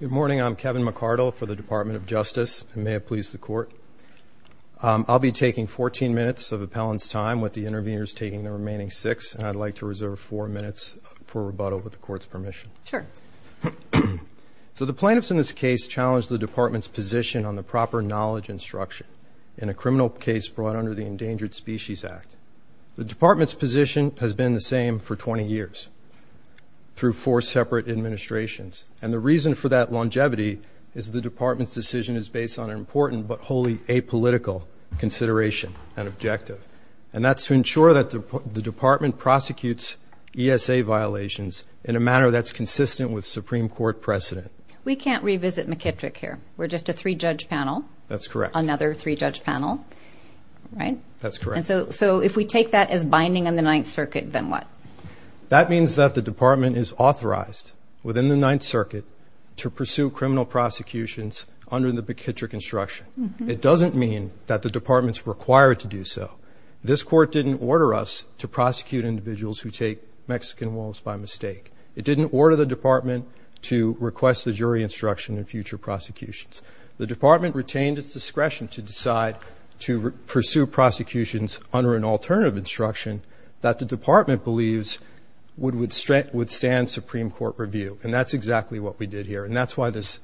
Good morning, I'm Kevin McCardle for the Department of Justice, and may it please the Court. I'll be taking 14 minutes of appellant's time, with the interveners taking the remaining 6, and I'd like to reserve 4 minutes for rebuttal with the Court's permission. Sure. So the plaintiffs in this case challenged the Department's position on the proper knowledge and structure in a criminal case brought under the Endangered Species Act. The Department's position has been the same for 20 years, through 4 separate administrations, and the reason for that longevity is the Department's decision is based on an important but wholly apolitical consideration and objective, and that's to ensure that the Department prosecutes ESA violations in a manner that's consistent with Supreme Court precedent. We can't revisit McKittrick here. We're just a three-judge panel. That's correct. Another three-judge panel, right? That's correct. And so if we take that as binding in the Ninth Circuit, then what? That means that the Department is authorized within the Ninth Circuit to pursue criminal prosecutions under the McKittrick instruction. It doesn't mean that the Department's required to do so. This Court didn't order us to prosecute individuals who take Mexican wolves by mistake. It didn't order the Department to request the jury instruction in future prosecutions. The Department retained its discretion to decide to pursue prosecutions under an alternative instruction that the Department believes would withstand Supreme Court review, and that's exactly what we did here, and that's why this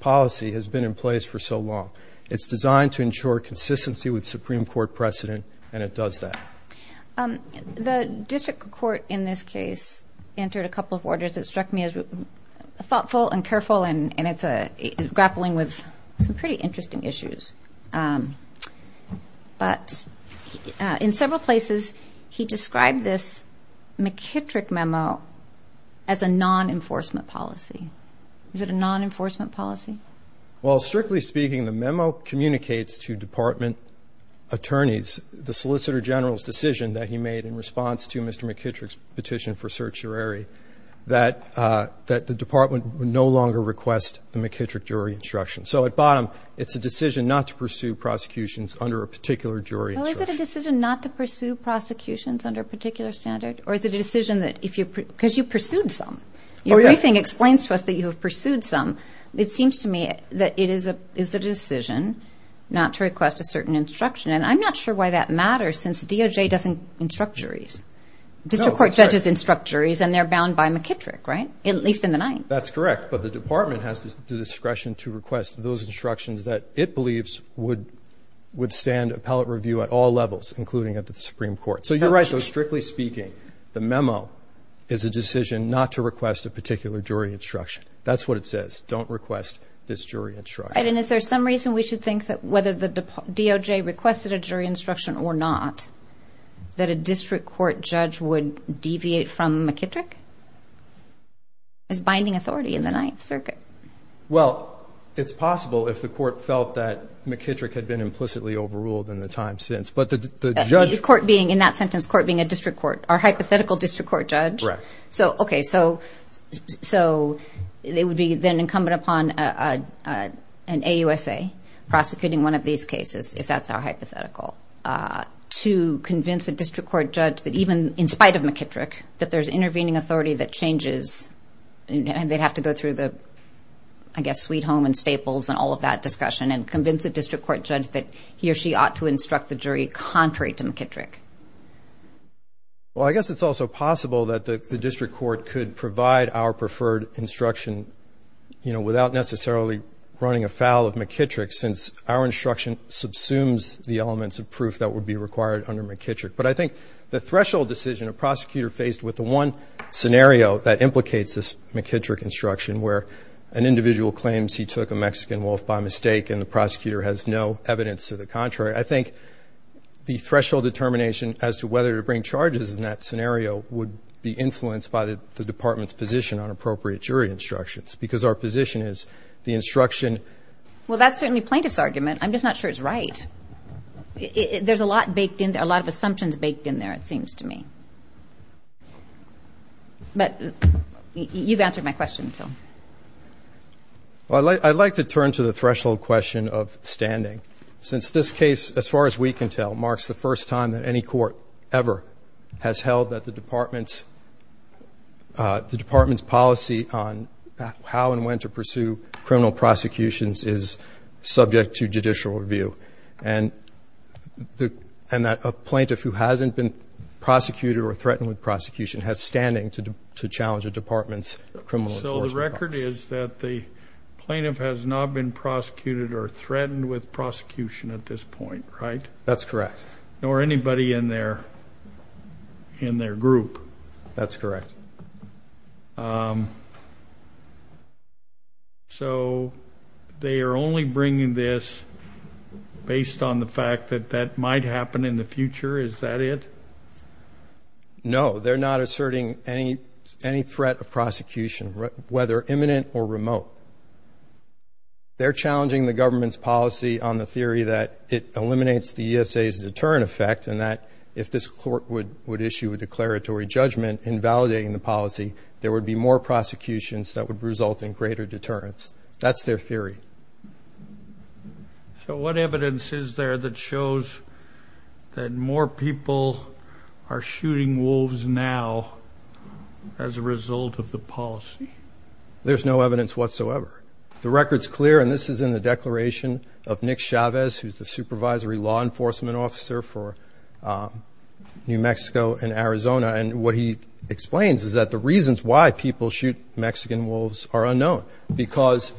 policy has been in place for so long. It's designed to ensure consistency with Supreme Court precedent, and it does that. The District Court in this case entered a couple of orders that struck me as thoughtful and careful and grappling with some pretty interesting issues. But in several places he described this McKittrick memo as a non-enforcement policy. Is it a non-enforcement policy? Well, strictly speaking, the memo communicates to Department attorneys the Solicitor General's decision that he made in response to Mr. McKittrick's petition for certiorari, that the Department would no longer request the McKittrick jury instruction. So at bottom, it's a decision not to pursue prosecutions under a particular jury instruction. Well, is it a decision not to pursue prosecutions under a particular standard, or is it a decision that if you're – because you pursued some. Your briefing explains to us that you have pursued some. It seems to me that it is a decision not to request a certain instruction, and I'm not sure why that matters since DOJ doesn't instruct juries. District Court judges instruct juries, and they're bound by McKittrick, right? At least in the ninth. That's correct, but the Department has the discretion to request those instructions that it believes would stand appellate review at all levels, including at the Supreme Court. So you're right. So strictly speaking, the memo is a decision not to request a particular jury instruction. That's what it says. Don't request this jury instruction. Right, and is there some reason we should think that whether the DOJ requested a jury instruction or not, that a district court judge would deviate from McKittrick as binding authority in the Ninth Circuit? Well, it's possible if the court felt that McKittrick had been implicitly overruled in the time since. But the judge – The court being, in that sentence, court being a district court or hypothetical district court judge. Correct. So, okay, so it would be then incumbent upon an AUSA prosecuting one of these cases, if that's our hypothetical, to convince a district court judge that even in spite of McKittrick, that there's intervening authority that changes. And they'd have to go through the, I guess, Sweet Home and Staples and all of that discussion and convince a district court judge that he or she ought to instruct the jury contrary to McKittrick. Well, I guess it's also possible that the district court could provide our preferred instruction, you know, without necessarily running afoul of McKittrick, since our instruction subsumes the elements of proof that would be required under McKittrick. But I think the threshold decision a prosecutor faced with the one scenario that implicates this McKittrick instruction, where an individual claims he took a Mexican wolf by mistake and the prosecutor has no evidence to the contrary, I think the threshold determination as to whether to bring charges in that scenario would be influenced by the department's position on appropriate jury instructions, because our position is the instruction. Well, that's certainly plaintiff's argument. I'm just not sure it's right. There's a lot baked in there, a lot of assumptions baked in there, it seems to me. But you've answered my question, so. Well, I'd like to turn to the threshold question of standing. Since this case, as far as we can tell, marks the first time that any court ever has held that the department's policy on how and when to pursue criminal prosecutions is subject to judicial review, and that a plaintiff who hasn't been prosecuted or threatened with prosecution has standing to challenge a department's criminal enforcement policy. My question is that the plaintiff has not been prosecuted or threatened with prosecution at this point, right? That's correct. Nor anybody in their group. That's correct. So they are only bringing this based on the fact that that might happen in the future, is that it? No, they're not asserting any threat of prosecution, whether imminent or remote. They're challenging the government's policy on the theory that it eliminates the ESA's deterrent effect, and that if this court would issue a declaratory judgment invalidating the policy, there would be more prosecutions that would result in greater deterrence. That's their theory. So what evidence is there that shows that more people are shooting wolves now as a result of the policy? There's no evidence whatsoever. The record's clear, and this is in the declaration of Nick Chavez, who's the supervisory law enforcement officer for New Mexico and Arizona, and what he explains is that the reasons why people shoot Mexican wolves are unknown, because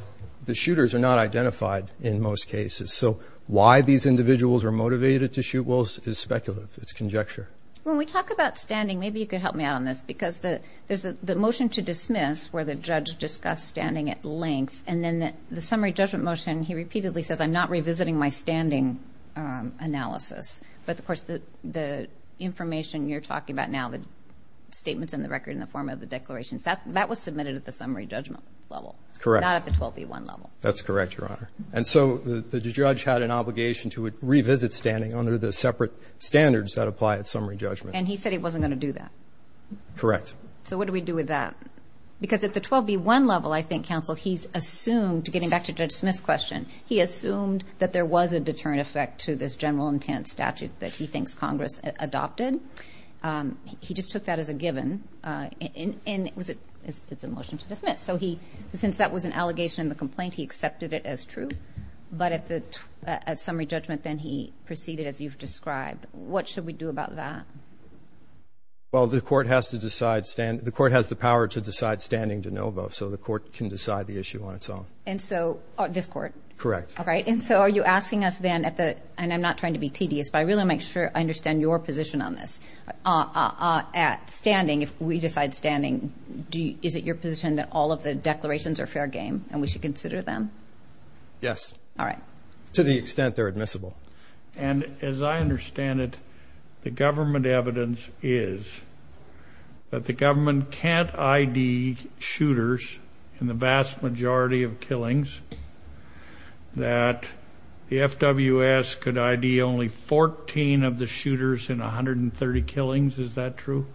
the shooters are not identified in most cases. So why these individuals are motivated to shoot wolves is speculative. It's conjecture. When we talk about standing, maybe you could help me out on this, because there's the motion to dismiss where the judge discussed standing at length, and then the summary judgment motion, he repeatedly says, I'm not revisiting my standing analysis. But, of course, the information you're talking about now, the statements in the record in the form of the declaration, that was submitted at the summary judgment level. Correct. Not at the 12B1 level. That's correct, Your Honor. And so the judge had an obligation to revisit standing under the separate standards that apply at summary judgment. And he said he wasn't going to do that. Correct. So what do we do with that? Because at the 12B1 level, I think, counsel, he's assumed, getting back to Judge Smith's question, he assumed that there was a deterrent effect to this general intent statute that he thinks Congress adopted. He just took that as a given. And it's a motion to dismiss. So he, since that was an allegation in the complaint, he accepted it as true. But at summary judgment, then, he proceeded as you've described. What should we do about that? Well, the court has to decide, the court has the power to decide standing de novo, so the court can decide the issue on its own. And so, this court? Correct. All right. And so are you asking us then, and I'm not trying to be tedious, but I really want to make sure I understand your position on this. At standing, if we decide standing, is it your position that all of the declarations are fair game and we should consider them? Yes. All right. To the extent they're admissible. And as I understand it, the government evidence is that the government can't ID shooters in the vast majority of killings, that the FWS could ID only 14 of the shooters in 130 killings. Is that true?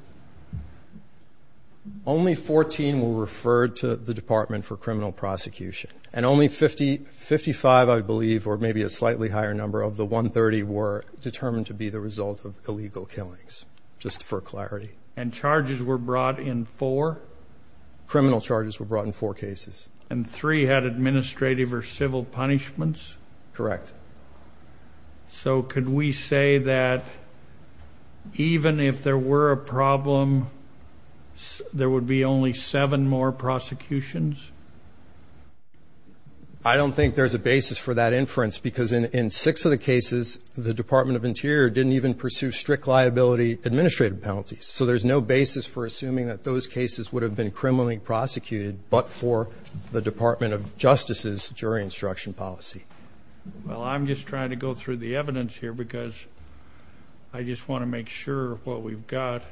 Only 14 were referred to the Department for Criminal Prosecution. And only 55, I believe, or maybe a slightly higher number of the 130, were determined to be the result of illegal killings, just for clarity. And charges were brought in for? Criminal charges were brought in for cases. And three had administrative or civil punishments? Correct. So could we say that even if there were a problem, there would be only seven more prosecutions? I don't think there's a basis for that inference because in six of the cases, the Department of Interior didn't even pursue strict liability administrative penalties. So there's no basis for assuming that those cases would have been criminally prosecuted but for the Department of Justice's jury instruction policy. Well, I'm just trying to go through the evidence here because I just want to make sure what we've got.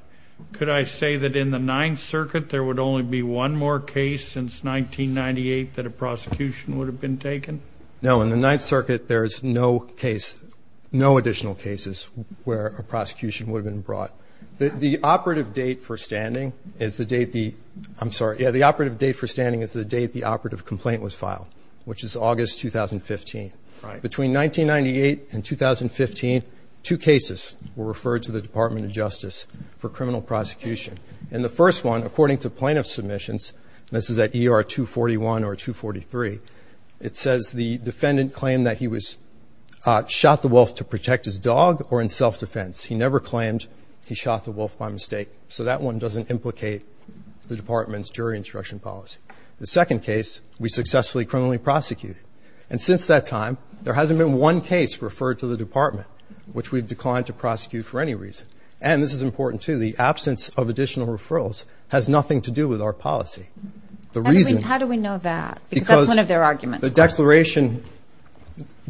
Could I say that in the Ninth Circuit, there would only be one more case since 1998 that a prosecution would have been taken? No, in the Ninth Circuit, there's no additional cases where a prosecution would have been brought. The operative date for standing is the date the operative complaint was filed, which is August 2015. Between 1998 and 2015, two cases were referred to the Department of Justice for criminal prosecution. And the first one, according to plaintiff submissions, and this is at ER 241 or 243, it says the defendant claimed that he shot the wolf to protect his dog or in self-defense. He never claimed he shot the wolf by mistake. So that one doesn't implicate the Department's jury instruction policy. The second case, we successfully criminally prosecuted. And since that time, there hasn't been one case referred to the Department, which we've declined to prosecute for any reason. And this is important, too. The absence of additional referrals has nothing to do with our policy. How do we know that? Because that's one of their arguments. The declaration,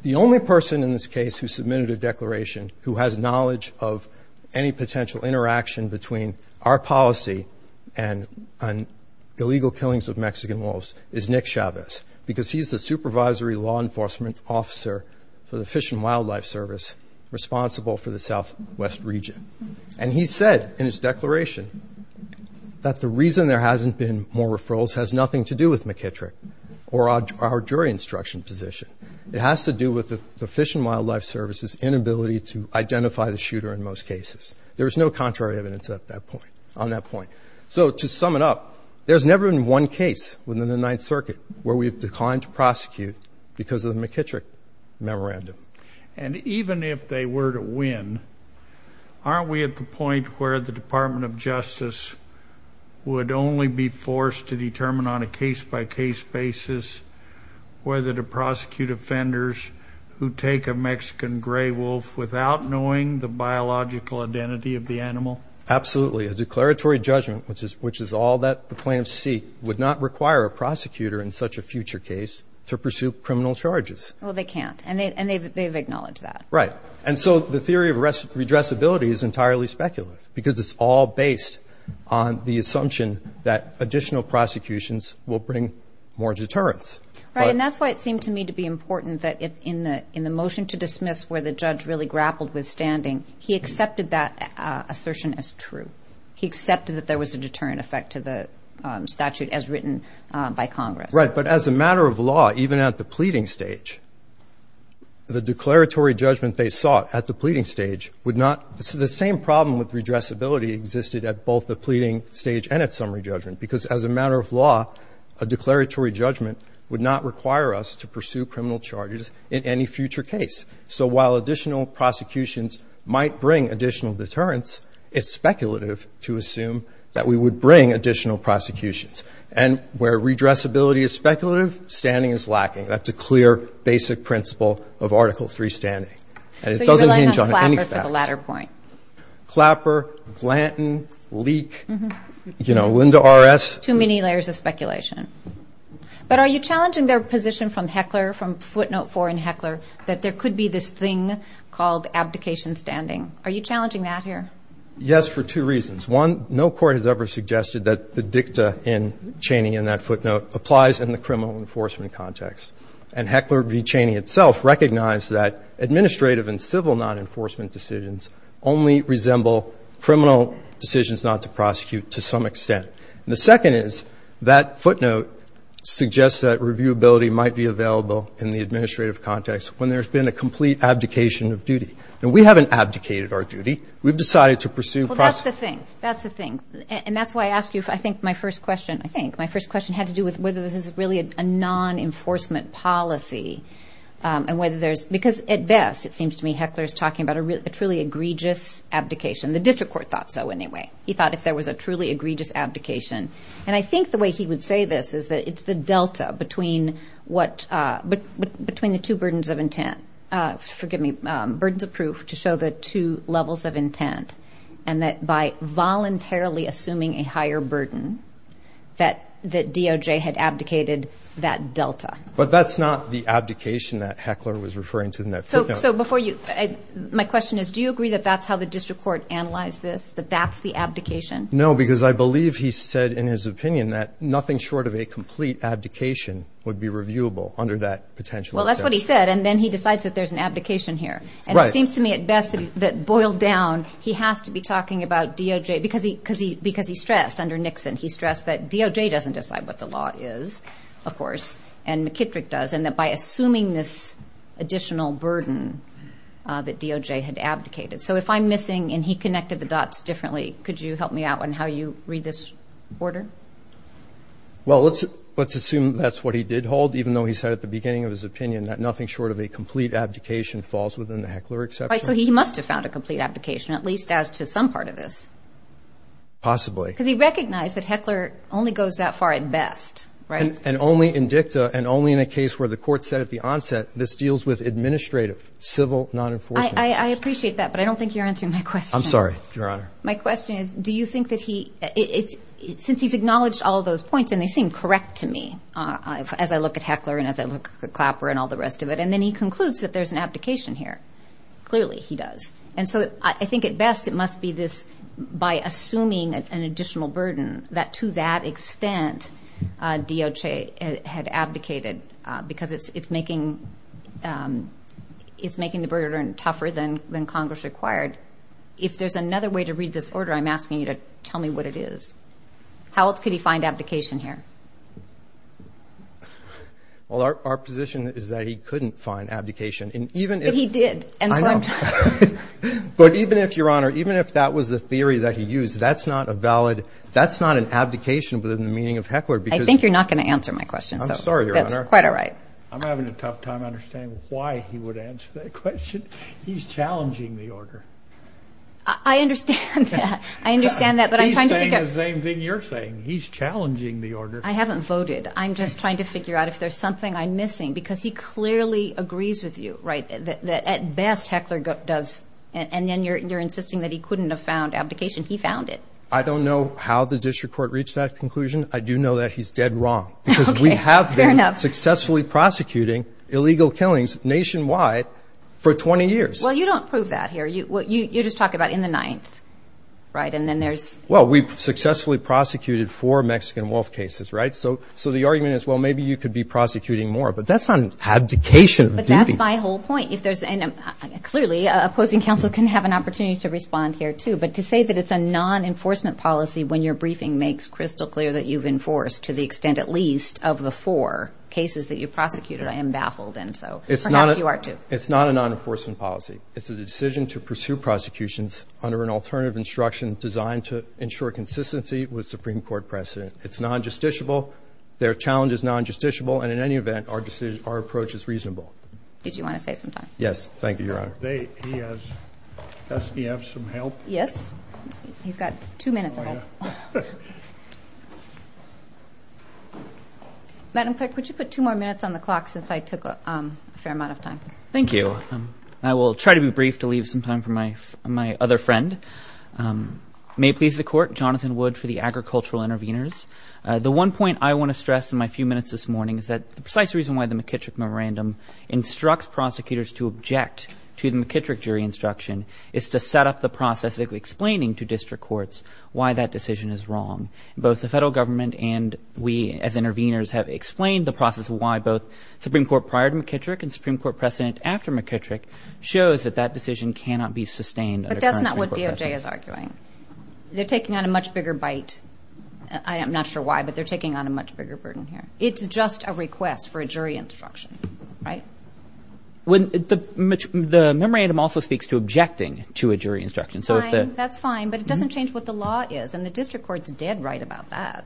the only person in this case who submitted a declaration who has knowledge of any potential interaction between our policy and illegal killings of Mexican wolves is Nick Chavez, because he's the supervisory law enforcement officer for the Fish and Wildlife Service responsible for the Southwest region. And he said in his declaration that the reason there hasn't been more referrals has nothing to do with McKittrick or our jury instruction position. It has to do with the Fish and Wildlife Service's inability to identify the shooter in most cases. There is no contrary evidence on that point. So to sum it up, there's never been one case within the Ninth Circuit where we've declined to prosecute because of the McKittrick memorandum. And even if they were to win, aren't we at the point where the Department of Justice would only be forced to determine on a case-by-case basis whether to prosecute offenders who take a Mexican gray wolf without knowing the biological identity of the animal? Absolutely. A declaratory judgment, which is all that the plaintiffs seek, would not require a prosecutor in such a future case to pursue criminal charges. Well, they can't, and they've acknowledged that. Right. And so the theory of redressability is entirely speculative because it's all based on the assumption that additional prosecutions will bring more deterrence. Right, and that's why it seemed to me to be important that in the motion to dismiss where the judge really grappled with standing, he accepted that assertion as true. He accepted that there was a deterrent effect to the statute as written by Congress. Right, but as a matter of law, even at the pleading stage, the declaratory judgment they sought at the pleading stage would not – the same problem with redressability existed at both the pleading stage and at summary judgment because as a matter of law, a declaratory judgment would not require us to pursue criminal charges in any future case. So while additional prosecutions might bring additional deterrence, it's speculative to assume that we would bring additional prosecutions. And where redressability is speculative, standing is lacking. That's a clear, basic principle of Article III standing. And it doesn't hinge on any facts. So you're relying on Clapper for the latter point. Clapper, Blanton, Leak, you know, Linda RS. Too many layers of speculation. But are you challenging their position from Heckler, from footnote four in Heckler, that there could be this thing called abdication standing? Are you challenging that here? Yes, for two reasons. One, no court has ever suggested that the dicta in Cheney in that footnote applies in the criminal enforcement context. And Heckler v. Cheney itself recognized that administrative and civil non-enforcement decisions only resemble criminal decisions not to prosecute to some extent. And the second is that footnote suggests that reviewability might be available in the administrative context when there's been a complete abdication of duty. Now, we haven't abdicated our duty. We've decided to pursue prosecutions. Well, that's the thing. That's the thing. And that's why I asked you, I think, my first question. It had to do with whether this is really a non-enforcement policy and whether there's because at best it seems to me Heckler is talking about a truly egregious abdication. The district court thought so anyway. He thought if there was a truly egregious abdication. And I think the way he would say this is that it's the delta between what between the two burdens of intent, forgive me, burdens of proof to show the two levels of intent. And that by voluntarily assuming a higher burden that DOJ had abdicated that delta. But that's not the abdication that Heckler was referring to in that footnote. So before you – my question is do you agree that that's how the district court analyzed this, that that's the abdication? No, because I believe he said in his opinion that nothing short of a complete abdication would be reviewable under that potential. Well, that's what he said. And then he decides that there's an abdication here. Right. It seems to me at best that boiled down he has to be talking about DOJ because he stressed under Nixon, he stressed that DOJ doesn't decide what the law is, of course, and McKittrick does and that by assuming this additional burden that DOJ had abdicated. So if I'm missing and he connected the dots differently, could you help me out on how you read this order? Well, let's assume that's what he did hold, even though he said at the beginning of his opinion that nothing short of a complete abdication falls within the Heckler exception. Right. So he must have found a complete abdication, at least as to some part of this. Possibly. Because he recognized that Heckler only goes that far at best, right? And only in dicta and only in a case where the court said at the onset this deals with administrative, civil, non-enforcement. I appreciate that, but I don't think you're answering my question. I'm sorry, Your Honor. My question is do you think that he – since he's acknowledged all those points and they seem correct to me as I look at Heckler and as I look at Clapper and all the rest of it, and then he concludes that there's an abdication here. Clearly he does. And so I think at best it must be this by assuming an additional burden that to that extent DOJ had abdicated because it's making the burden tougher than Congress required. If there's another way to read this order, I'm asking you to tell me what it is. How else could he find abdication here? Well, our position is that he couldn't find abdication. But he did. I know. But even if, Your Honor, even if that was the theory that he used, that's not a valid – that's not an abdication within the meaning of Heckler because – I think you're not going to answer my question. I'm sorry, Your Honor. That's quite all right. I'm having a tough time understanding why he would answer that question. He's challenging the order. I understand that. I understand that, but I'm trying to figure – He's saying the same thing you're saying. He's challenging the order. I haven't voted. I'm just trying to figure out if there's something I'm missing because he clearly agrees with you, right, that at best Heckler does – and then you're insisting that he couldn't have found abdication. He found it. I don't know how the district court reached that conclusion. I do know that he's dead wrong. Okay. Fair enough. Because we have been successfully prosecuting illegal killings nationwide for 20 years. Well, you don't prove that here. You just talk about in the ninth, right, and then there's – Well, we've successfully prosecuted four Mexican wolf cases, right? So the argument is, well, maybe you could be prosecuting more. But that's on abdication. But that's my whole point. Clearly, opposing counsel can have an opportunity to respond here too. But to say that it's a non-enforcement policy when your briefing makes crystal clear that you've enforced to the extent at least of the four cases that you prosecuted, I am baffled. And so perhaps you are too. It's not a non-enforcement policy. It's a decision to pursue prosecutions under an alternative instruction designed to ensure consistency with Supreme Court precedent. It's non-justiciable. Their challenge is non-justiciable. And in any event, our approach is reasonable. Did you want to say something? Yes. Thank you, Your Honor. Does he have some help? Yes. He's got two minutes. Oh, yeah. Madam Clerk, would you put two more minutes on the clock since I took a fair amount of time? Thank you. So I will try to be brief to leave some time for my other friend. May it please the Court, Jonathan Wood for the Agricultural Intervenors. The one point I want to stress in my few minutes this morning is that the precise reason why the McKittrick memorandum instructs prosecutors to object to the McKittrick jury instruction is to set up the process of explaining to district courts why that decision is wrong. Both the federal government and we as intervenors have explained the process of why both Supreme Court prior to McKittrick and Supreme Court precedent after McKittrick shows that that decision cannot be sustained under current Supreme Court precedent. But that's not what DOJ is arguing. They're taking on a much bigger bite. I'm not sure why, but they're taking on a much bigger burden here. It's just a request for a jury instruction, right? The memorandum also speaks to objecting to a jury instruction. Fine. That's fine. But it doesn't change what the law is, and the district court is dead right about that.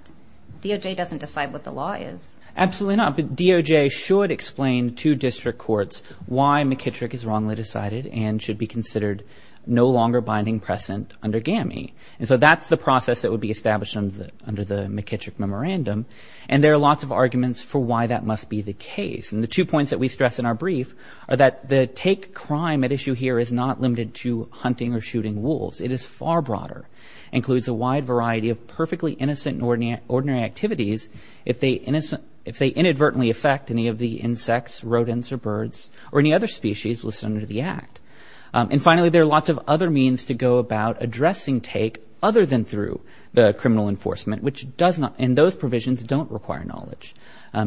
DOJ doesn't decide what the law is. Absolutely not. DOJ should explain to district courts why McKittrick is wrongly decided and should be considered no longer binding precedent under GAMI. And so that's the process that would be established under the McKittrick memorandum. And there are lots of arguments for why that must be the case. And the two points that we stress in our brief are that the take crime at issue here is not limited to hunting or shooting wolves. It is far broader, includes a wide variety of perfectly innocent and ordinary activities. If they inadvertently affect any of the insects, rodents or birds or any other species listed under the act. And finally, there are lots of other means to go about addressing take other than through the criminal enforcement, which does not. And those provisions don't require knowledge.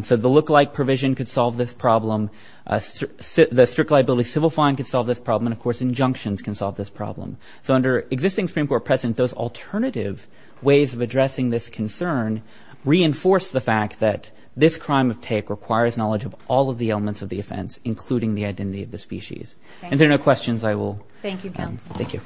So the lookalike provision could solve this problem. The strict liability civil fine could solve this problem. And, of course, injunctions can solve this problem. So under existing Supreme Court precedent, those alternative ways of addressing this concern reinforce the fact that this crime of take requires knowledge of all of the elements of the offense, including the identity of the species. And there are no questions. I will. Thank you. Thank you. Thank you.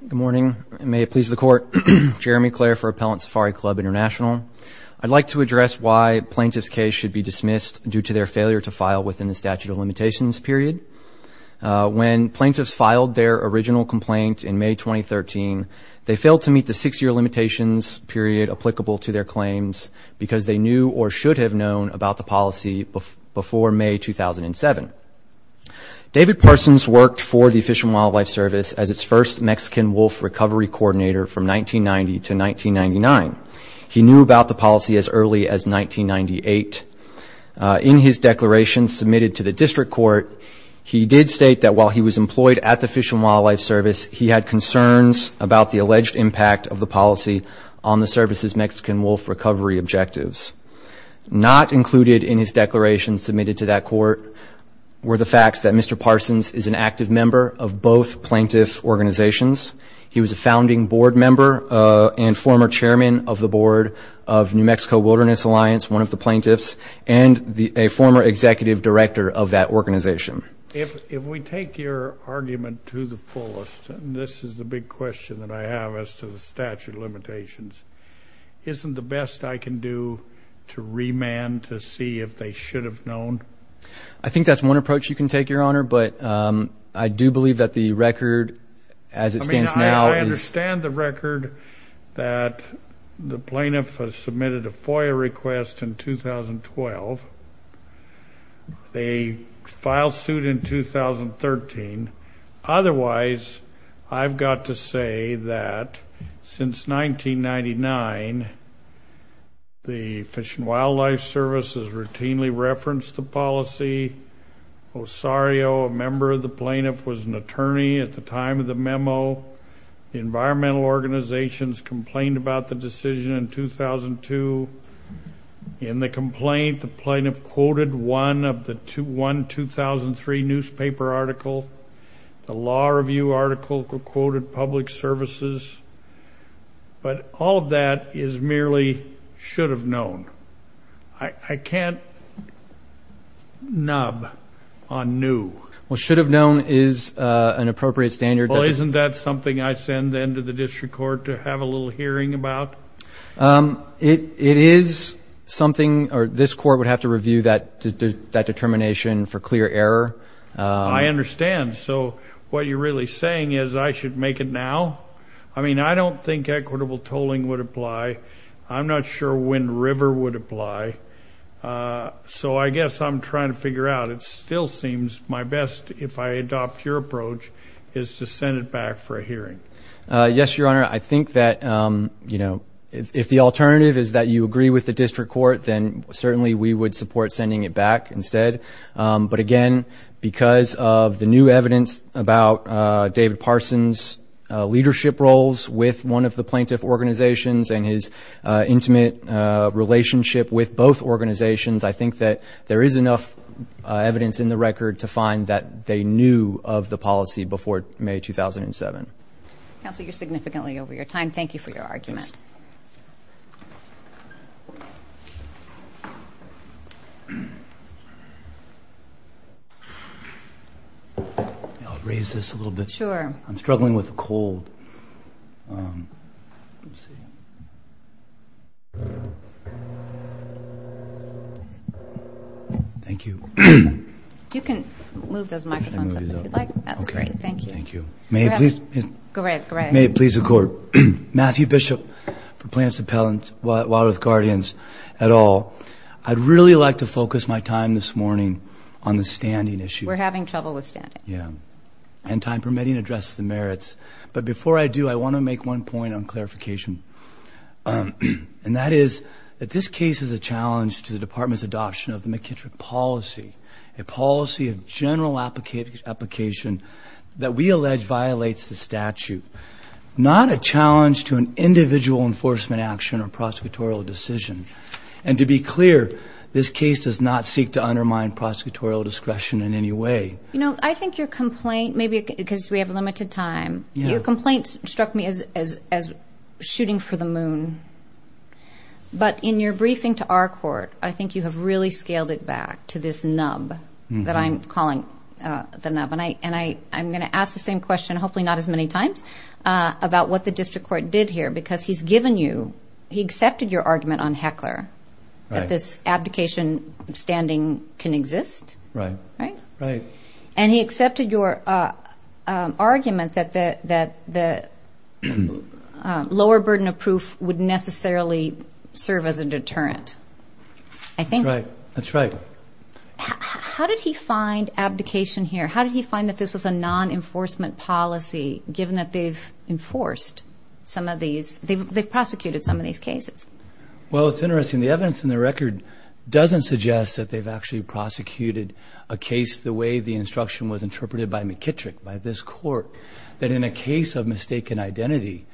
Good morning. May it please the court. Jeremy Claire for Appellant Safari Club International. I'd like to address why plaintiff's case should be dismissed due to their failure to file within the statute of limitations period. When plaintiffs filed their original complaint in May 2013, they failed to meet the six year limitations period applicable to their claims because they knew or should have known about the policy before May 2007. David Parsons worked for the Fish and Wildlife Service as its first Mexican wolf recovery coordinator from 1990 to 1999. He knew about the policy as early as 1998. In his declaration submitted to the district court, he did state that while he was employed at the Fish and Wildlife Service, he had concerns about the alleged impact of the policy on the service's Mexican wolf recovery objectives. Not included in his declaration submitted to that court were the facts that Mr. Parsons is an active member of both plaintiff's organizations. He was a founding board member and former chairman of the board of New Mexico Wilderness Alliance, one of the plaintiffs, and a former executive director of that organization. If we take your argument to the fullest, and this is the big question that I have as to the statute of limitations, isn't the best I can do to remand to see if they should have known? I think that's one approach you can take, Your Honor, but I do believe that the record as it stands now is... I mean, I understand the record that the plaintiff has submitted a FOIA request in 2012. They filed suit in 2013. Otherwise, I've got to say that since 1999, the Fish and Wildlife Service has routinely referenced the policy. Osario, a member of the plaintiff, was an attorney at the time of the memo. Environmental organizations complained about the decision in 2002. In the complaint, the plaintiff quoted one 2003 newspaper article. The law review article quoted public services. But all of that is merely should have known. I can't nub on new. Well, should have known is an appropriate standard. Well, isn't that something I send then to the district court to have a little hearing about? It is something this court would have to review that determination for clear error. I understand. So what you're really saying is I should make it now? I mean, I don't think equitable tolling would apply. I'm not sure when river would apply. So I guess I'm trying to figure out. It still seems my best, if I adopt your approach, is to send it back for a hearing. Yes, Your Honor. I think that, you know, if the alternative is that you agree with the district court, then certainly we would support sending it back instead. But, again, because of the new evidence about David Parson's leadership roles with one of the plaintiff organizations and his intimate relationship with both organizations, I think that there is enough evidence in the record to find that they knew of the policy before May 2007. Counsel, you're significantly over your time. Thank you for your argument. I'll raise this a little bit. Sure. I'm struggling with a cold. Thank you. You can move those microphones up if you'd like. That's great. Thank you. May it please the Court. Matthew Bishop for Plaintiff's Appellant, Wildworth Guardians et al. I'd really like to focus my time this morning on the standing issue. We're having trouble with standing. Yeah. And time permitting, address the merits. But before I do, I want to make one point on clarification. And that is that this case is a challenge to the Department's adoption of the McKittrick policy, a policy of general application that we allege violates the statute, not a challenge to an individual enforcement action or prosecutorial decision. And to be clear, this case does not seek to undermine prosecutorial discretion in any way. You know, I think your complaint, maybe because we have limited time, your complaint struck me as shooting for the moon. But in your briefing to our court, I think you have really scaled it back to this nub that I'm calling the nub. And I'm going to ask the same question, hopefully not as many times, about what the district court did here, because he's given you, he accepted your argument on Heckler that this abdication standing can exist. Right. Right? Right. And he accepted your argument that the lower burden of proof would necessarily serve as a deterrent. I think. That's right. That's right. How did he find abdication here? How did he find that this was a non-enforcement policy, given that they've enforced some of these, they've prosecuted some of these cases? Well, it's interesting. The evidence in the record doesn't suggest that they've actually prosecuted a case the way the instruction was interpreted by McKittrick, by this court, that in a case of mistaken identity,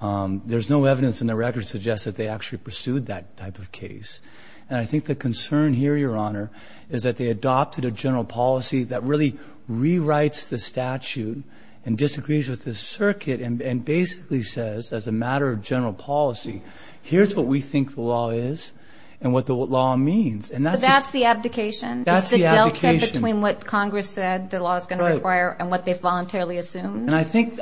there's no evidence in the record that suggests that they actually pursued that type of case. And I think the concern here, Your Honor, is that they adopted a general policy that really rewrites the statute and disagrees with the circuit and basically says, as a matter of general policy, here's what we think the law is and what the law means. But that's the abdication? That's the abdication. Is the delta between what Congress said the law is going to require and what they've voluntarily assumed? And I think.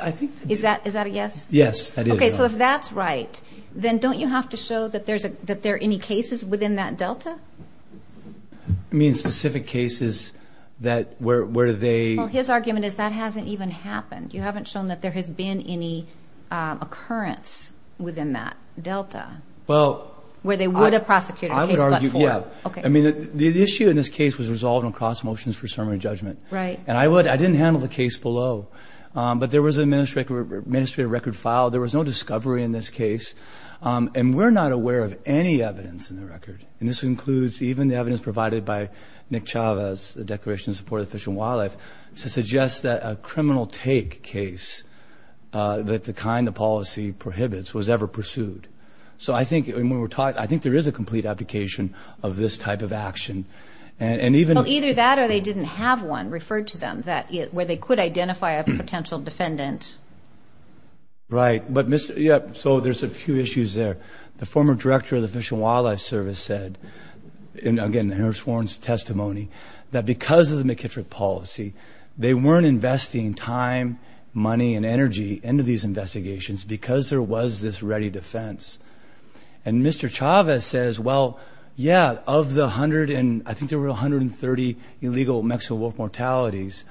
Is that a yes? Yes, that is a yes. Okay. So if that's right, then don't you have to show that there are any cases within that delta? You mean specific cases that where they... Well, his argument is that hasn't even happened. You haven't shown that there has been any occurrence within that delta. Well... Where they would have prosecuted a case but for... I would argue, yeah. Okay. I mean, the issue in this case was resolved on cross motions for summary judgment. Right. And I would... I didn't handle the case below. But there was an administrative record filed. There was no discovery in this case. And we're not aware of any evidence in the record, and this includes even the evidence provided by Nick Chavez, the Declaration of Support of Fish and Wildlife, to suggest that a criminal take case that the kind of policy prohibits was ever pursued. So I think when we were talking, I think there is a complete abdication of this type of action. And even... Well, either that or they didn't have one referred to them where they could identify a potential defendant. Right. So there's a few issues there. The former director of the Fish and Wildlife Service said, again, in her sworn testimony, that because of the McKittrick policy, they weren't investing time, money, and energy into these investigations because there was this ready defense. And Mr. Chavez says, well, yeah, of the 130 illegal Mexico wolf mortalities,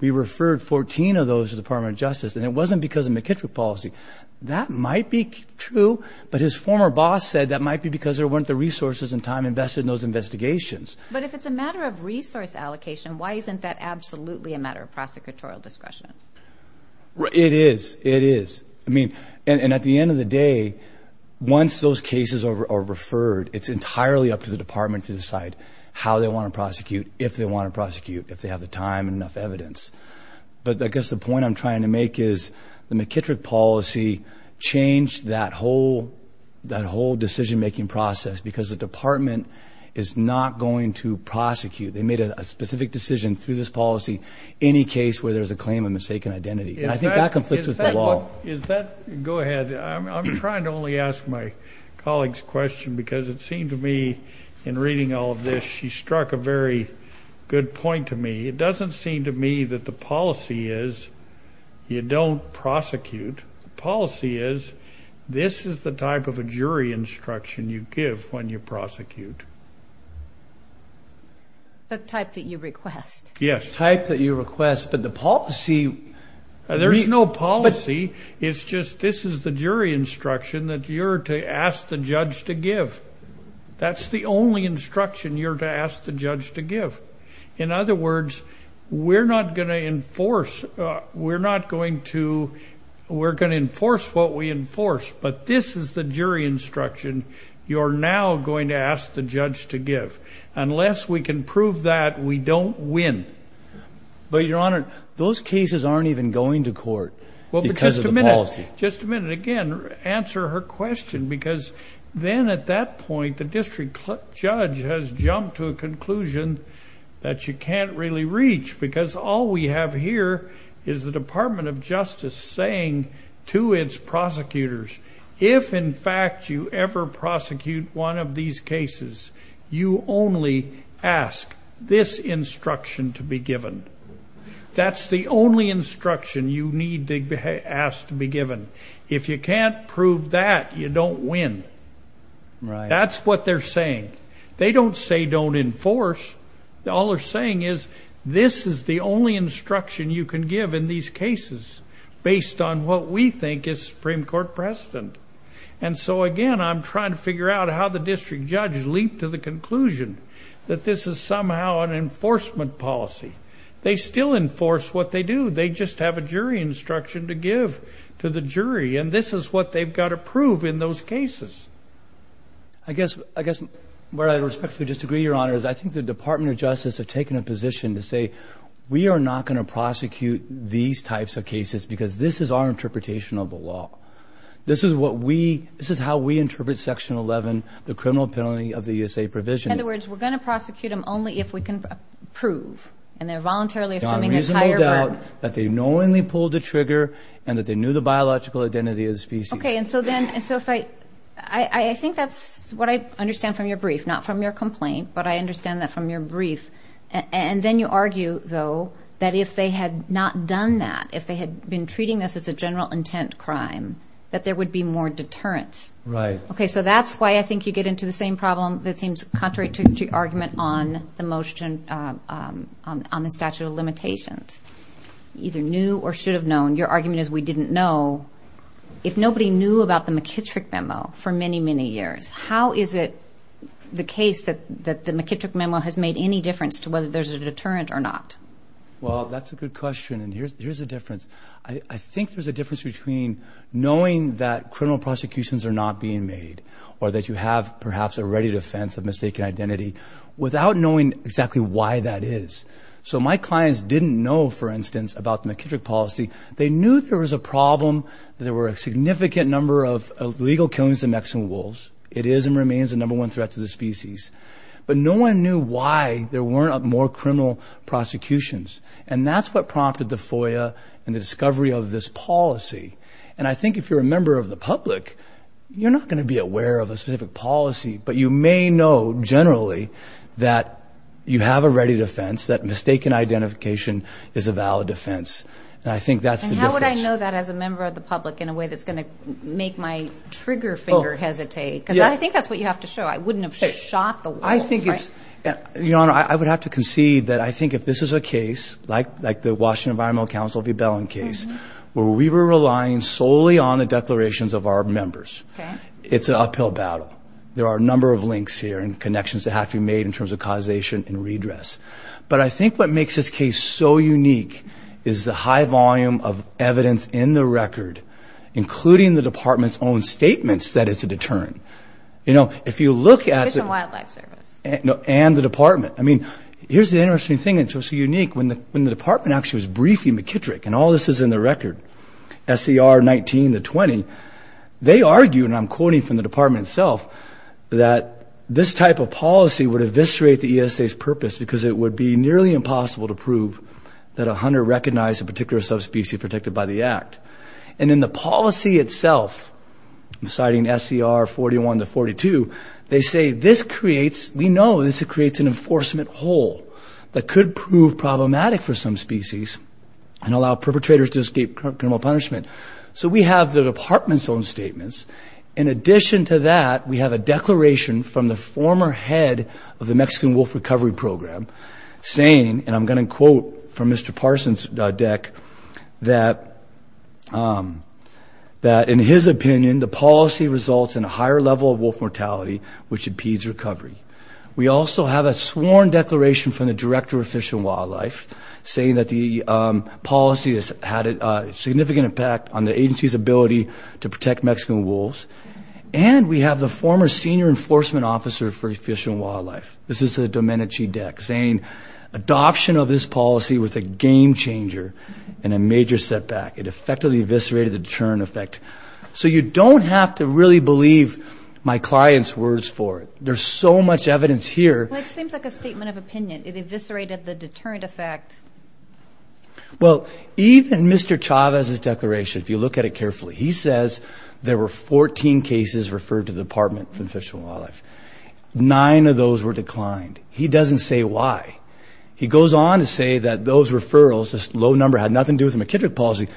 we referred 14 of those to the Department of Justice, and it wasn't because of McKittrick policy. That might be true, but his former boss said that might be because there weren't the resources and time invested in those investigations. But if it's a matter of resource allocation, why isn't that absolutely a matter of prosecutorial discretion? It is. It is. And at the end of the day, once those cases are referred, it's entirely up to the department to decide how they want to prosecute, if they want to prosecute, if they have the time and enough evidence. But I guess the point I'm trying to make is the McKittrick policy changed that whole decision-making process because the department is not going to prosecute. They made a specific decision through this policy, any case where there's a claim of mistaken identity. And I think that conflicts with the law. Go ahead. I'm trying to only ask my colleague's question because it seemed to me, in reading all of this, she struck a very good point to me. It doesn't seem to me that the policy is you don't prosecute. The policy is this is the type of a jury instruction you give when you prosecute. The type that you request. Yes. The type that you request, but the policy. There's no policy. It's just this is the jury instruction that you're to ask the judge to give. That's the only instruction you're to ask the judge to give. In other words, we're not going to enforce what we enforce, but this is the jury instruction you're now going to ask the judge to give. Unless we can prove that, we don't win. But, Your Honor, those cases aren't even going to court because of the policy. Just a minute. Just a minute. Again, answer her question because then at that point, the district judge has jumped to a conclusion that you can't really reach because all we have here is the Department of Justice saying to its prosecutors, if, in fact, you ever prosecute one of these cases, you only ask this instruction to be given. That's the only instruction you need to ask to be given. If you can't prove that, you don't win. That's what they're saying. They don't say don't enforce. All they're saying is this is the only instruction you can give in these cases based on what we think is Supreme Court precedent. And so, again, I'm trying to figure out how the district judge leaped to the conclusion that this is somehow an enforcement policy. They still enforce what they do. They just have a jury instruction to give to the jury, and this is what they've got to prove in those cases. I guess where I respectfully disagree, Your Honor, is I think the Department of Justice have taken a position to say we are not going to prosecute these types of cases because this is our interpretation of the law. This is how we interpret Section 11, the criminal penalty of the ESA provision. In other words, we're going to prosecute them only if we can prove, and they're voluntarily assuming a higher burden. That they knowingly pulled the trigger and that they knew the biological identity of the species. Okay, and so then I think that's what I understand from your brief, not from your complaint, but I understand that from your brief. And then you argue, though, that if they had not done that, if they had been treating this as a general intent crime, that there would be more deterrence. Right. Okay, so that's why I think you get into the same problem that seems contrary to your argument on the statute of limitations. Either knew or should have known. Your argument is we didn't know. If nobody knew about the McKittrick Memo for many, many years, how is it the case that the McKittrick Memo has made any difference to whether there's a deterrent or not? Well, that's a good question, and here's the difference. I think there's a difference between knowing that criminal prosecutions are not being made or that you have perhaps a ready defense of mistaken identity without knowing exactly why that is. So my clients didn't know, for instance, about the McKittrick policy. They knew there was a problem, that there were a significant number of illegal killings of Mexican wolves. It is and remains the number one threat to the species. But no one knew why there weren't more criminal prosecutions, and that's what prompted the FOIA and the discovery of this policy. And I think if you're a member of the public, you're not going to be aware of a specific policy, but you may know generally that you have a ready defense, that mistaken identification is a valid defense. And I think that's the difference. And how would I know that as a member of the public in a way that's going to make my trigger finger hesitate? Because I think that's what you have to show. I wouldn't have shot the wolf, right? Your Honor, I would have to concede that I think if this is a case, like the Washington Environmental Council V. Bellen case, where we were relying solely on the declarations of our members, it's an uphill battle. There are a number of links here and connections that have to be made in terms of causation and redress. But I think what makes this case so unique is the high volume of evidence in the record, including the Department's own statements that it's a deterrent. You know, if you look at the... Fish and Wildlife Service. And the Department. I mean, here's the interesting thing that's so unique. When the Department actually was briefing McKittrick, and all this is in the record, S.E.R. 19 to 20, they argue, and I'm quoting from the Department itself, that this type of policy would eviscerate the ESA's purpose because it would be nearly impossible to prove that a hunter recognized a particular subspecies protected by the Act. And in the policy itself, citing S.E.R. 41 to 42, they say this creates... We know this creates an enforcement hole that could prove problematic for some species and allow perpetrators to escape criminal punishment. So we have the Department's own statements. In addition to that, we have a declaration from the former head of the Mexican Wolf Recovery Program saying, and I'm going to quote from Mr. Parson's deck, that in his opinion, the policy results in a higher level of wolf mortality, which impedes recovery. We also have a sworn declaration from the Director of Fish and Wildlife saying that the policy has had a significant impact on the agency's ability to protect Mexican wolves. And we have the former senior enforcement officer for Fish and Wildlife, this is the Domenici deck, saying adoption of this policy was a game-changer and a major setback. It effectively eviscerated the deterrent effect. So you don't have to really believe my client's words for it. There's so much evidence here. Well, it seems like a statement of opinion. It eviscerated the deterrent effect. Well, even Mr. Chavez's declaration, if you look at it carefully, he says there were 14 cases referred to the Department for Fish and Wildlife. Nine of those were declined. He doesn't say why. He goes on to say that those referrals, this low number, had nothing to do with the McKittrick policy.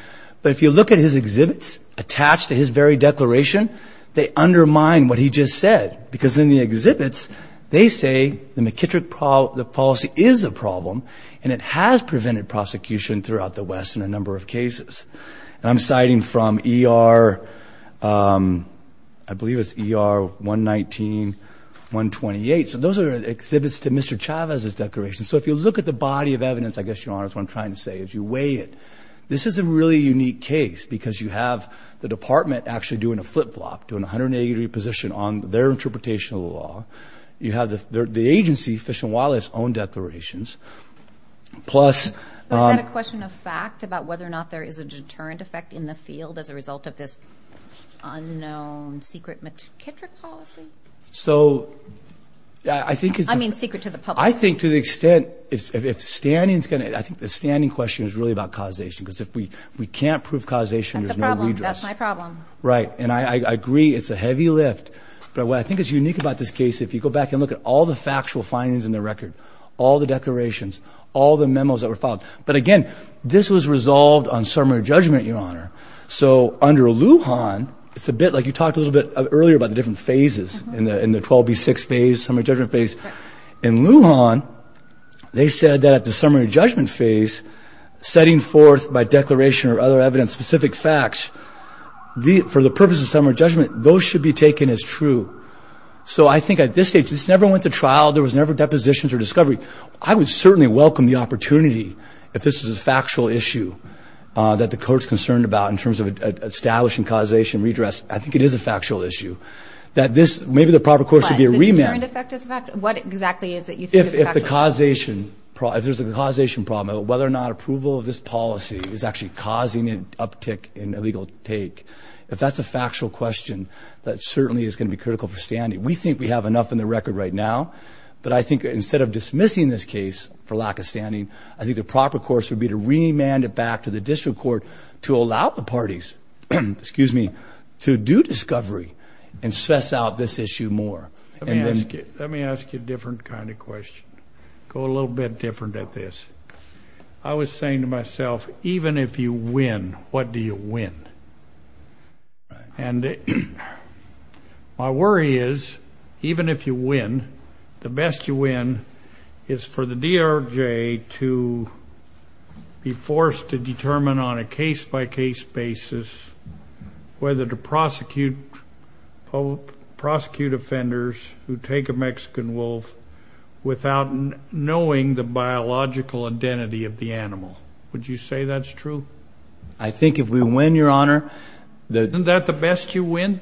But if you look at his exhibits attached to his very declaration, they undermine what he just said because in the exhibits they say the McKittrick policy is a problem and it has prevented prosecution throughout the West in a number of cases. And I'm citing from ER, I believe it's ER 119-128. So those are exhibits to Mr. Chavez's declaration. So if you look at the body of evidence, I guess, Your Honor, is what I'm trying to say, as you weigh it, this is a really unique case because you have the department actually doing a flip-flop, doing a 180-degree position on their interpretation of the law. You have the agency, Fish and Wildlife's own declarations. Plus— Is that a question of fact about whether or not there is a deterrent effect in the field as a result of this unknown secret McKittrick policy? So I think it's— I mean secret to the public. I think to the extent if standing is going to— I think the standing question is really about causation because if we can't prove causation, there's no redress. That's a problem. That's my problem. Right, and I agree it's a heavy lift. But what I think is unique about this case, if you go back and look at all the factual findings in the record, all the declarations, all the memos that were filed. But again, this was resolved on summary judgment, Your Honor. So under Lujan, it's a bit like you talked a little bit earlier about the different phases in the 12B6 phase, summary judgment phase. In Lujan, they said that at the summary judgment phase, setting forth by declaration or other evidence specific facts, for the purpose of summary judgment, those should be taken as true. So I think at this stage, this never went to trial. There was never depositions or discovery. I would certainly welcome the opportunity, if this is a factual issue that the Court's concerned about in terms of establishing causation, redress. I think it is a factual issue that this— maybe the proper Court should be a remand. What exactly is it you think is factual? If the causation—if there's a causation problem, whether or not approval of this policy is actually causing an uptick in illegal take, if that's a factual question, that certainly is going to be critical for standing. We think we have enough in the record right now, but I think instead of dismissing this case for lack of standing, I think the proper course would be to remand it back to the District Court to allow the parties to do discovery and stress out this issue more. Let me ask you a different kind of question. Go a little bit different at this. I was saying to myself, even if you win, what do you win? And my worry is, even if you win, the best you win is for the DRJ to be forced to determine on a case-by-case basis whether to prosecute offenders who take a Mexican wolf without knowing the biological identity of the animal. Would you say that's true? I think if we win, Your Honor— Isn't that the best you win?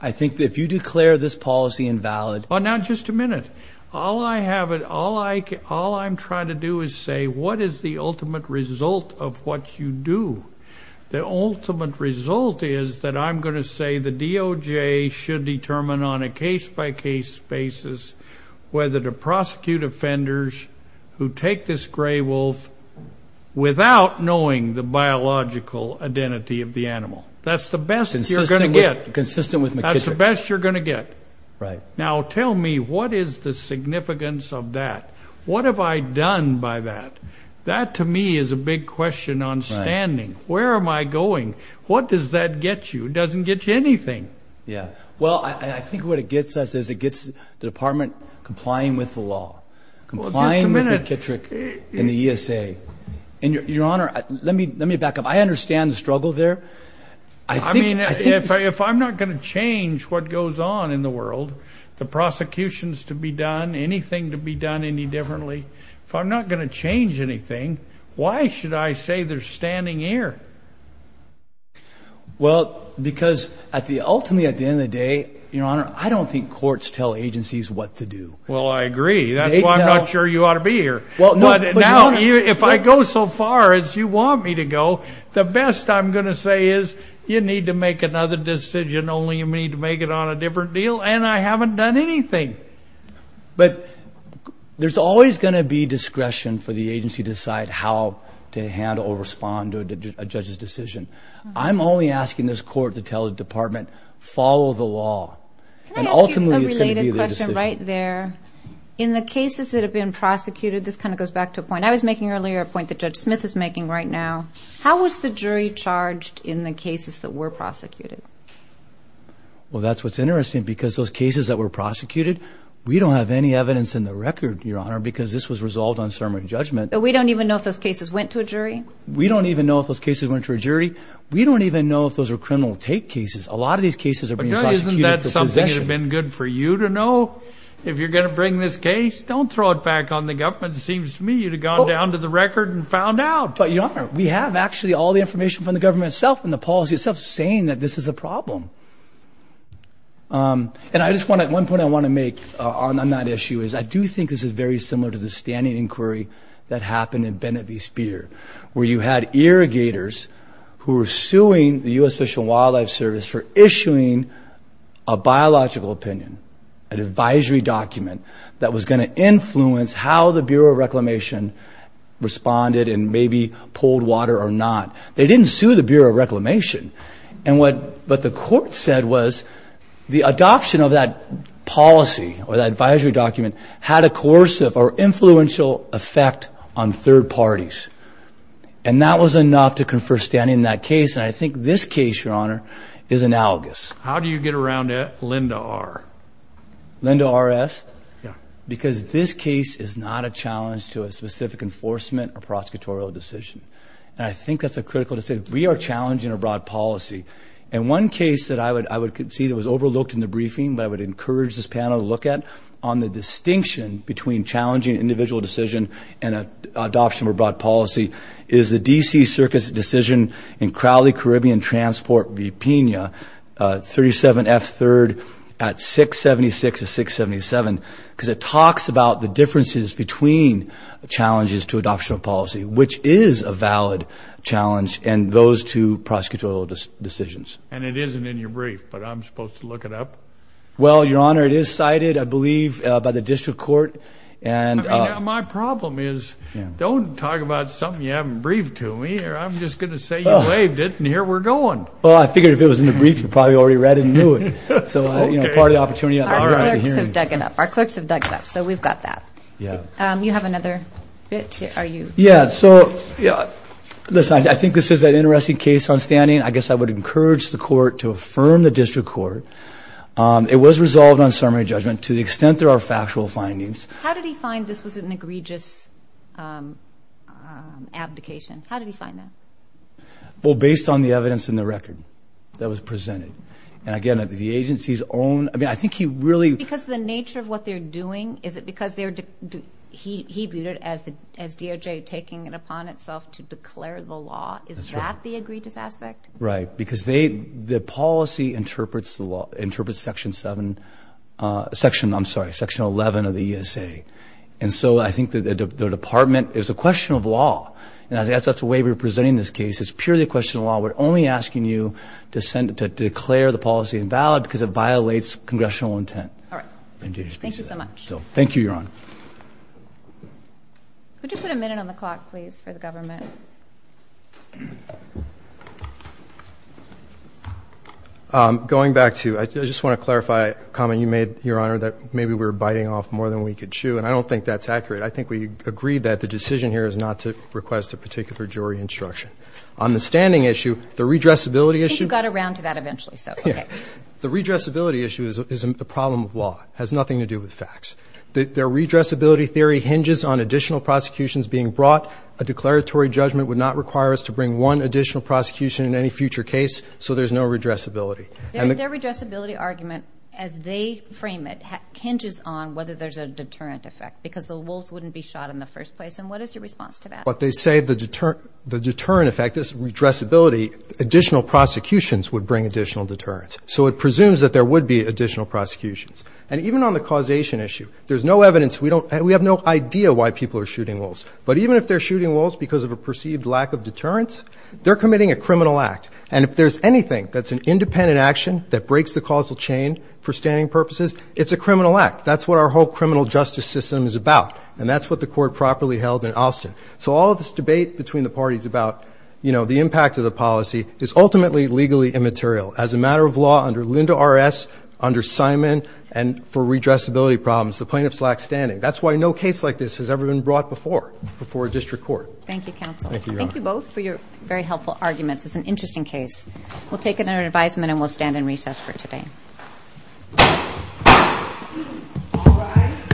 I think if you declare this policy invalid— Now, just a minute. All I have—all I'm trying to do is say, what is the ultimate result of what you do? The ultimate result is that I'm going to say the DOJ should determine on a case-by-case basis whether to prosecute offenders who take this gray wolf without knowing the biological identity of the animal. That's the best you're going to get. Consistent with McKissick. That's the best you're going to get. Right. Now, tell me, what is the significance of that? What have I done by that? That, to me, is a big question on standing. Where am I going? What does that get you? It doesn't get you anything. Yeah. Well, I think what it gets us is it gets the Department complying with the law, complying with McKissick and the ESA. And, Your Honor, let me back up. I understand the struggle there. I think— I mean, if I'm not going to change what goes on in the world, the prosecutions to be done, anything to be done any differently, if I'm not going to change anything, why should I say they're standing here? Well, because ultimately, at the end of the day, Your Honor, I don't think courts tell agencies what to do. Well, I agree. That's why I'm not sure you ought to be here. Now, if I go so far as you want me to go, the best I'm going to say is, you need to make another decision, only you need to make it on a different deal, and I haven't done anything. But there's always going to be discretion for the agency to decide how to handle or respond to a judge's decision. I'm only asking this Court to tell the Department, follow the law. And ultimately, it's going to be the decision. Can I ask you a related question right there? In the cases that have been prosecuted, this kind of goes back to a point. I was making earlier a point that Judge Smith is making right now. How was the jury charged in the cases that were prosecuted? Well, that's what's interesting, because those cases that were prosecuted, we don't have any evidence in the record, Your Honor, because this was resolved on ceremony of judgment. But we don't even know if those cases went to a jury? We don't even know if those cases went to a jury. We don't even know if those were criminal take cases. A lot of these cases are being prosecuted for possession. But isn't that something that would have been good for you to know? If you're going to bring this case, don't throw it back on the government. It seems to me you'd have gone down to the record and found out. But, Your Honor, we have actually all the information from the government itself and the policy itself saying that this is a problem. And one point I want to make on that issue is I do think this is very similar to the standing inquiry that happened in Bennett v. Speer, where you had irrigators who were suing the U.S. Fish and Wildlife Service for issuing a biological opinion, an advisory document, that was going to influence how the Bureau of Reclamation responded and maybe pulled water or not. They didn't sue the Bureau of Reclamation. And what the court said was the adoption of that policy or that advisory document had a coercive or influential effect on third parties. And that was enough to confer standing in that case. And I think this case, Your Honor, is analogous. How do you get around Linda R.? Linda R.S.? Yeah. Because this case is not a challenge to a specific enforcement or prosecutorial decision. And I think that's a critical decision. We are challenging a broad policy. And one case that I would see that was overlooked in the briefing that I would encourage this panel to look at on the distinction between challenging an individual decision and adoption of a broad policy is the D.C. Circus decision in Crowley Caribbean Transport, Vipina, 37F3rd at 676 of 677, because it talks about the differences between challenges to adoption of policy, which is a valid challenge in those two prosecutorial decisions. And it isn't in your brief, but I'm supposed to look it up? Well, Your Honor, it is cited, I believe, by the district court. My problem is don't talk about something you haven't briefed to me or I'm just going to say you waived it and here we're going. Well, I figured if it was in the brief, you probably already read it and knew it. So part of the opportunity. Our clerks have dug it up, so we've got that. You have another bit? Yeah, so listen, I think this is an interesting case on standing. I guess I would encourage the court to affirm the district court. It was resolved on summary judgment to the extent there are factual findings. How did he find this was an egregious abdication? How did he find that? Well, based on the evidence in the record that was presented. And, again, the agency's own – I mean, I think he really – Because the nature of what they're doing, is it because he viewed it as DOJ taking it upon itself to declare the law? Is that the egregious aspect? Right, because the policy interprets Section 7 – I'm sorry, Section 11 of the ESA. And so I think the Department – it's a question of law. That's the way we're presenting this case. It's purely a question of law. We're only asking you to declare the policy invalid because it violates congressional intent. All right. Thank you so much. Thank you, Your Honor. Could you put a minute on the clock, please, for the government? Going back to – I just want to clarify a comment you made, Your Honor, that maybe we're biting off more than we can chew, and I don't think that's accurate. I think we agreed that the decision here is not to request a particular jury instruction. On the standing issue, the redressability issue – I think you got around to that eventually, so, okay. The redressability issue is a problem of law. It has nothing to do with facts. Their redressability theory hinges on additional prosecutions being brought. A declaratory judgment would not require us to bring one additional prosecution in any future case, so there's no redressability. Their redressability argument, as they frame it, hinges on whether there's a deterrent effect because the wolves wouldn't be shot in the first place. And what is your response to that? What they say, the deterrent effect is redressability. Additional prosecutions would bring additional deterrents. So it presumes that there would be additional prosecutions. And even on the causation issue, there's no evidence – we have no idea why people are shooting wolves. But even if they're shooting wolves because of a perceived lack of deterrence, they're committing a criminal act. And if there's anything that's an independent action that breaks the causal chain for standing purposes, it's a criminal act. That's what our whole criminal justice system is about, and that's what the Court properly held in Austin. So all of this debate between the parties about, you know, the impact of the policy is ultimately legally immaterial. As a matter of law, under Linda R.S., under Simon, and for redressability problems, the plaintiffs lack standing. That's why no case like this has ever been brought before before a district court. Thank you, counsel. Thank you, Your Honor. Thank you both for your very helpful arguments. It's an interesting case. We'll take it under advisement and we'll stand in recess for today. Thank you.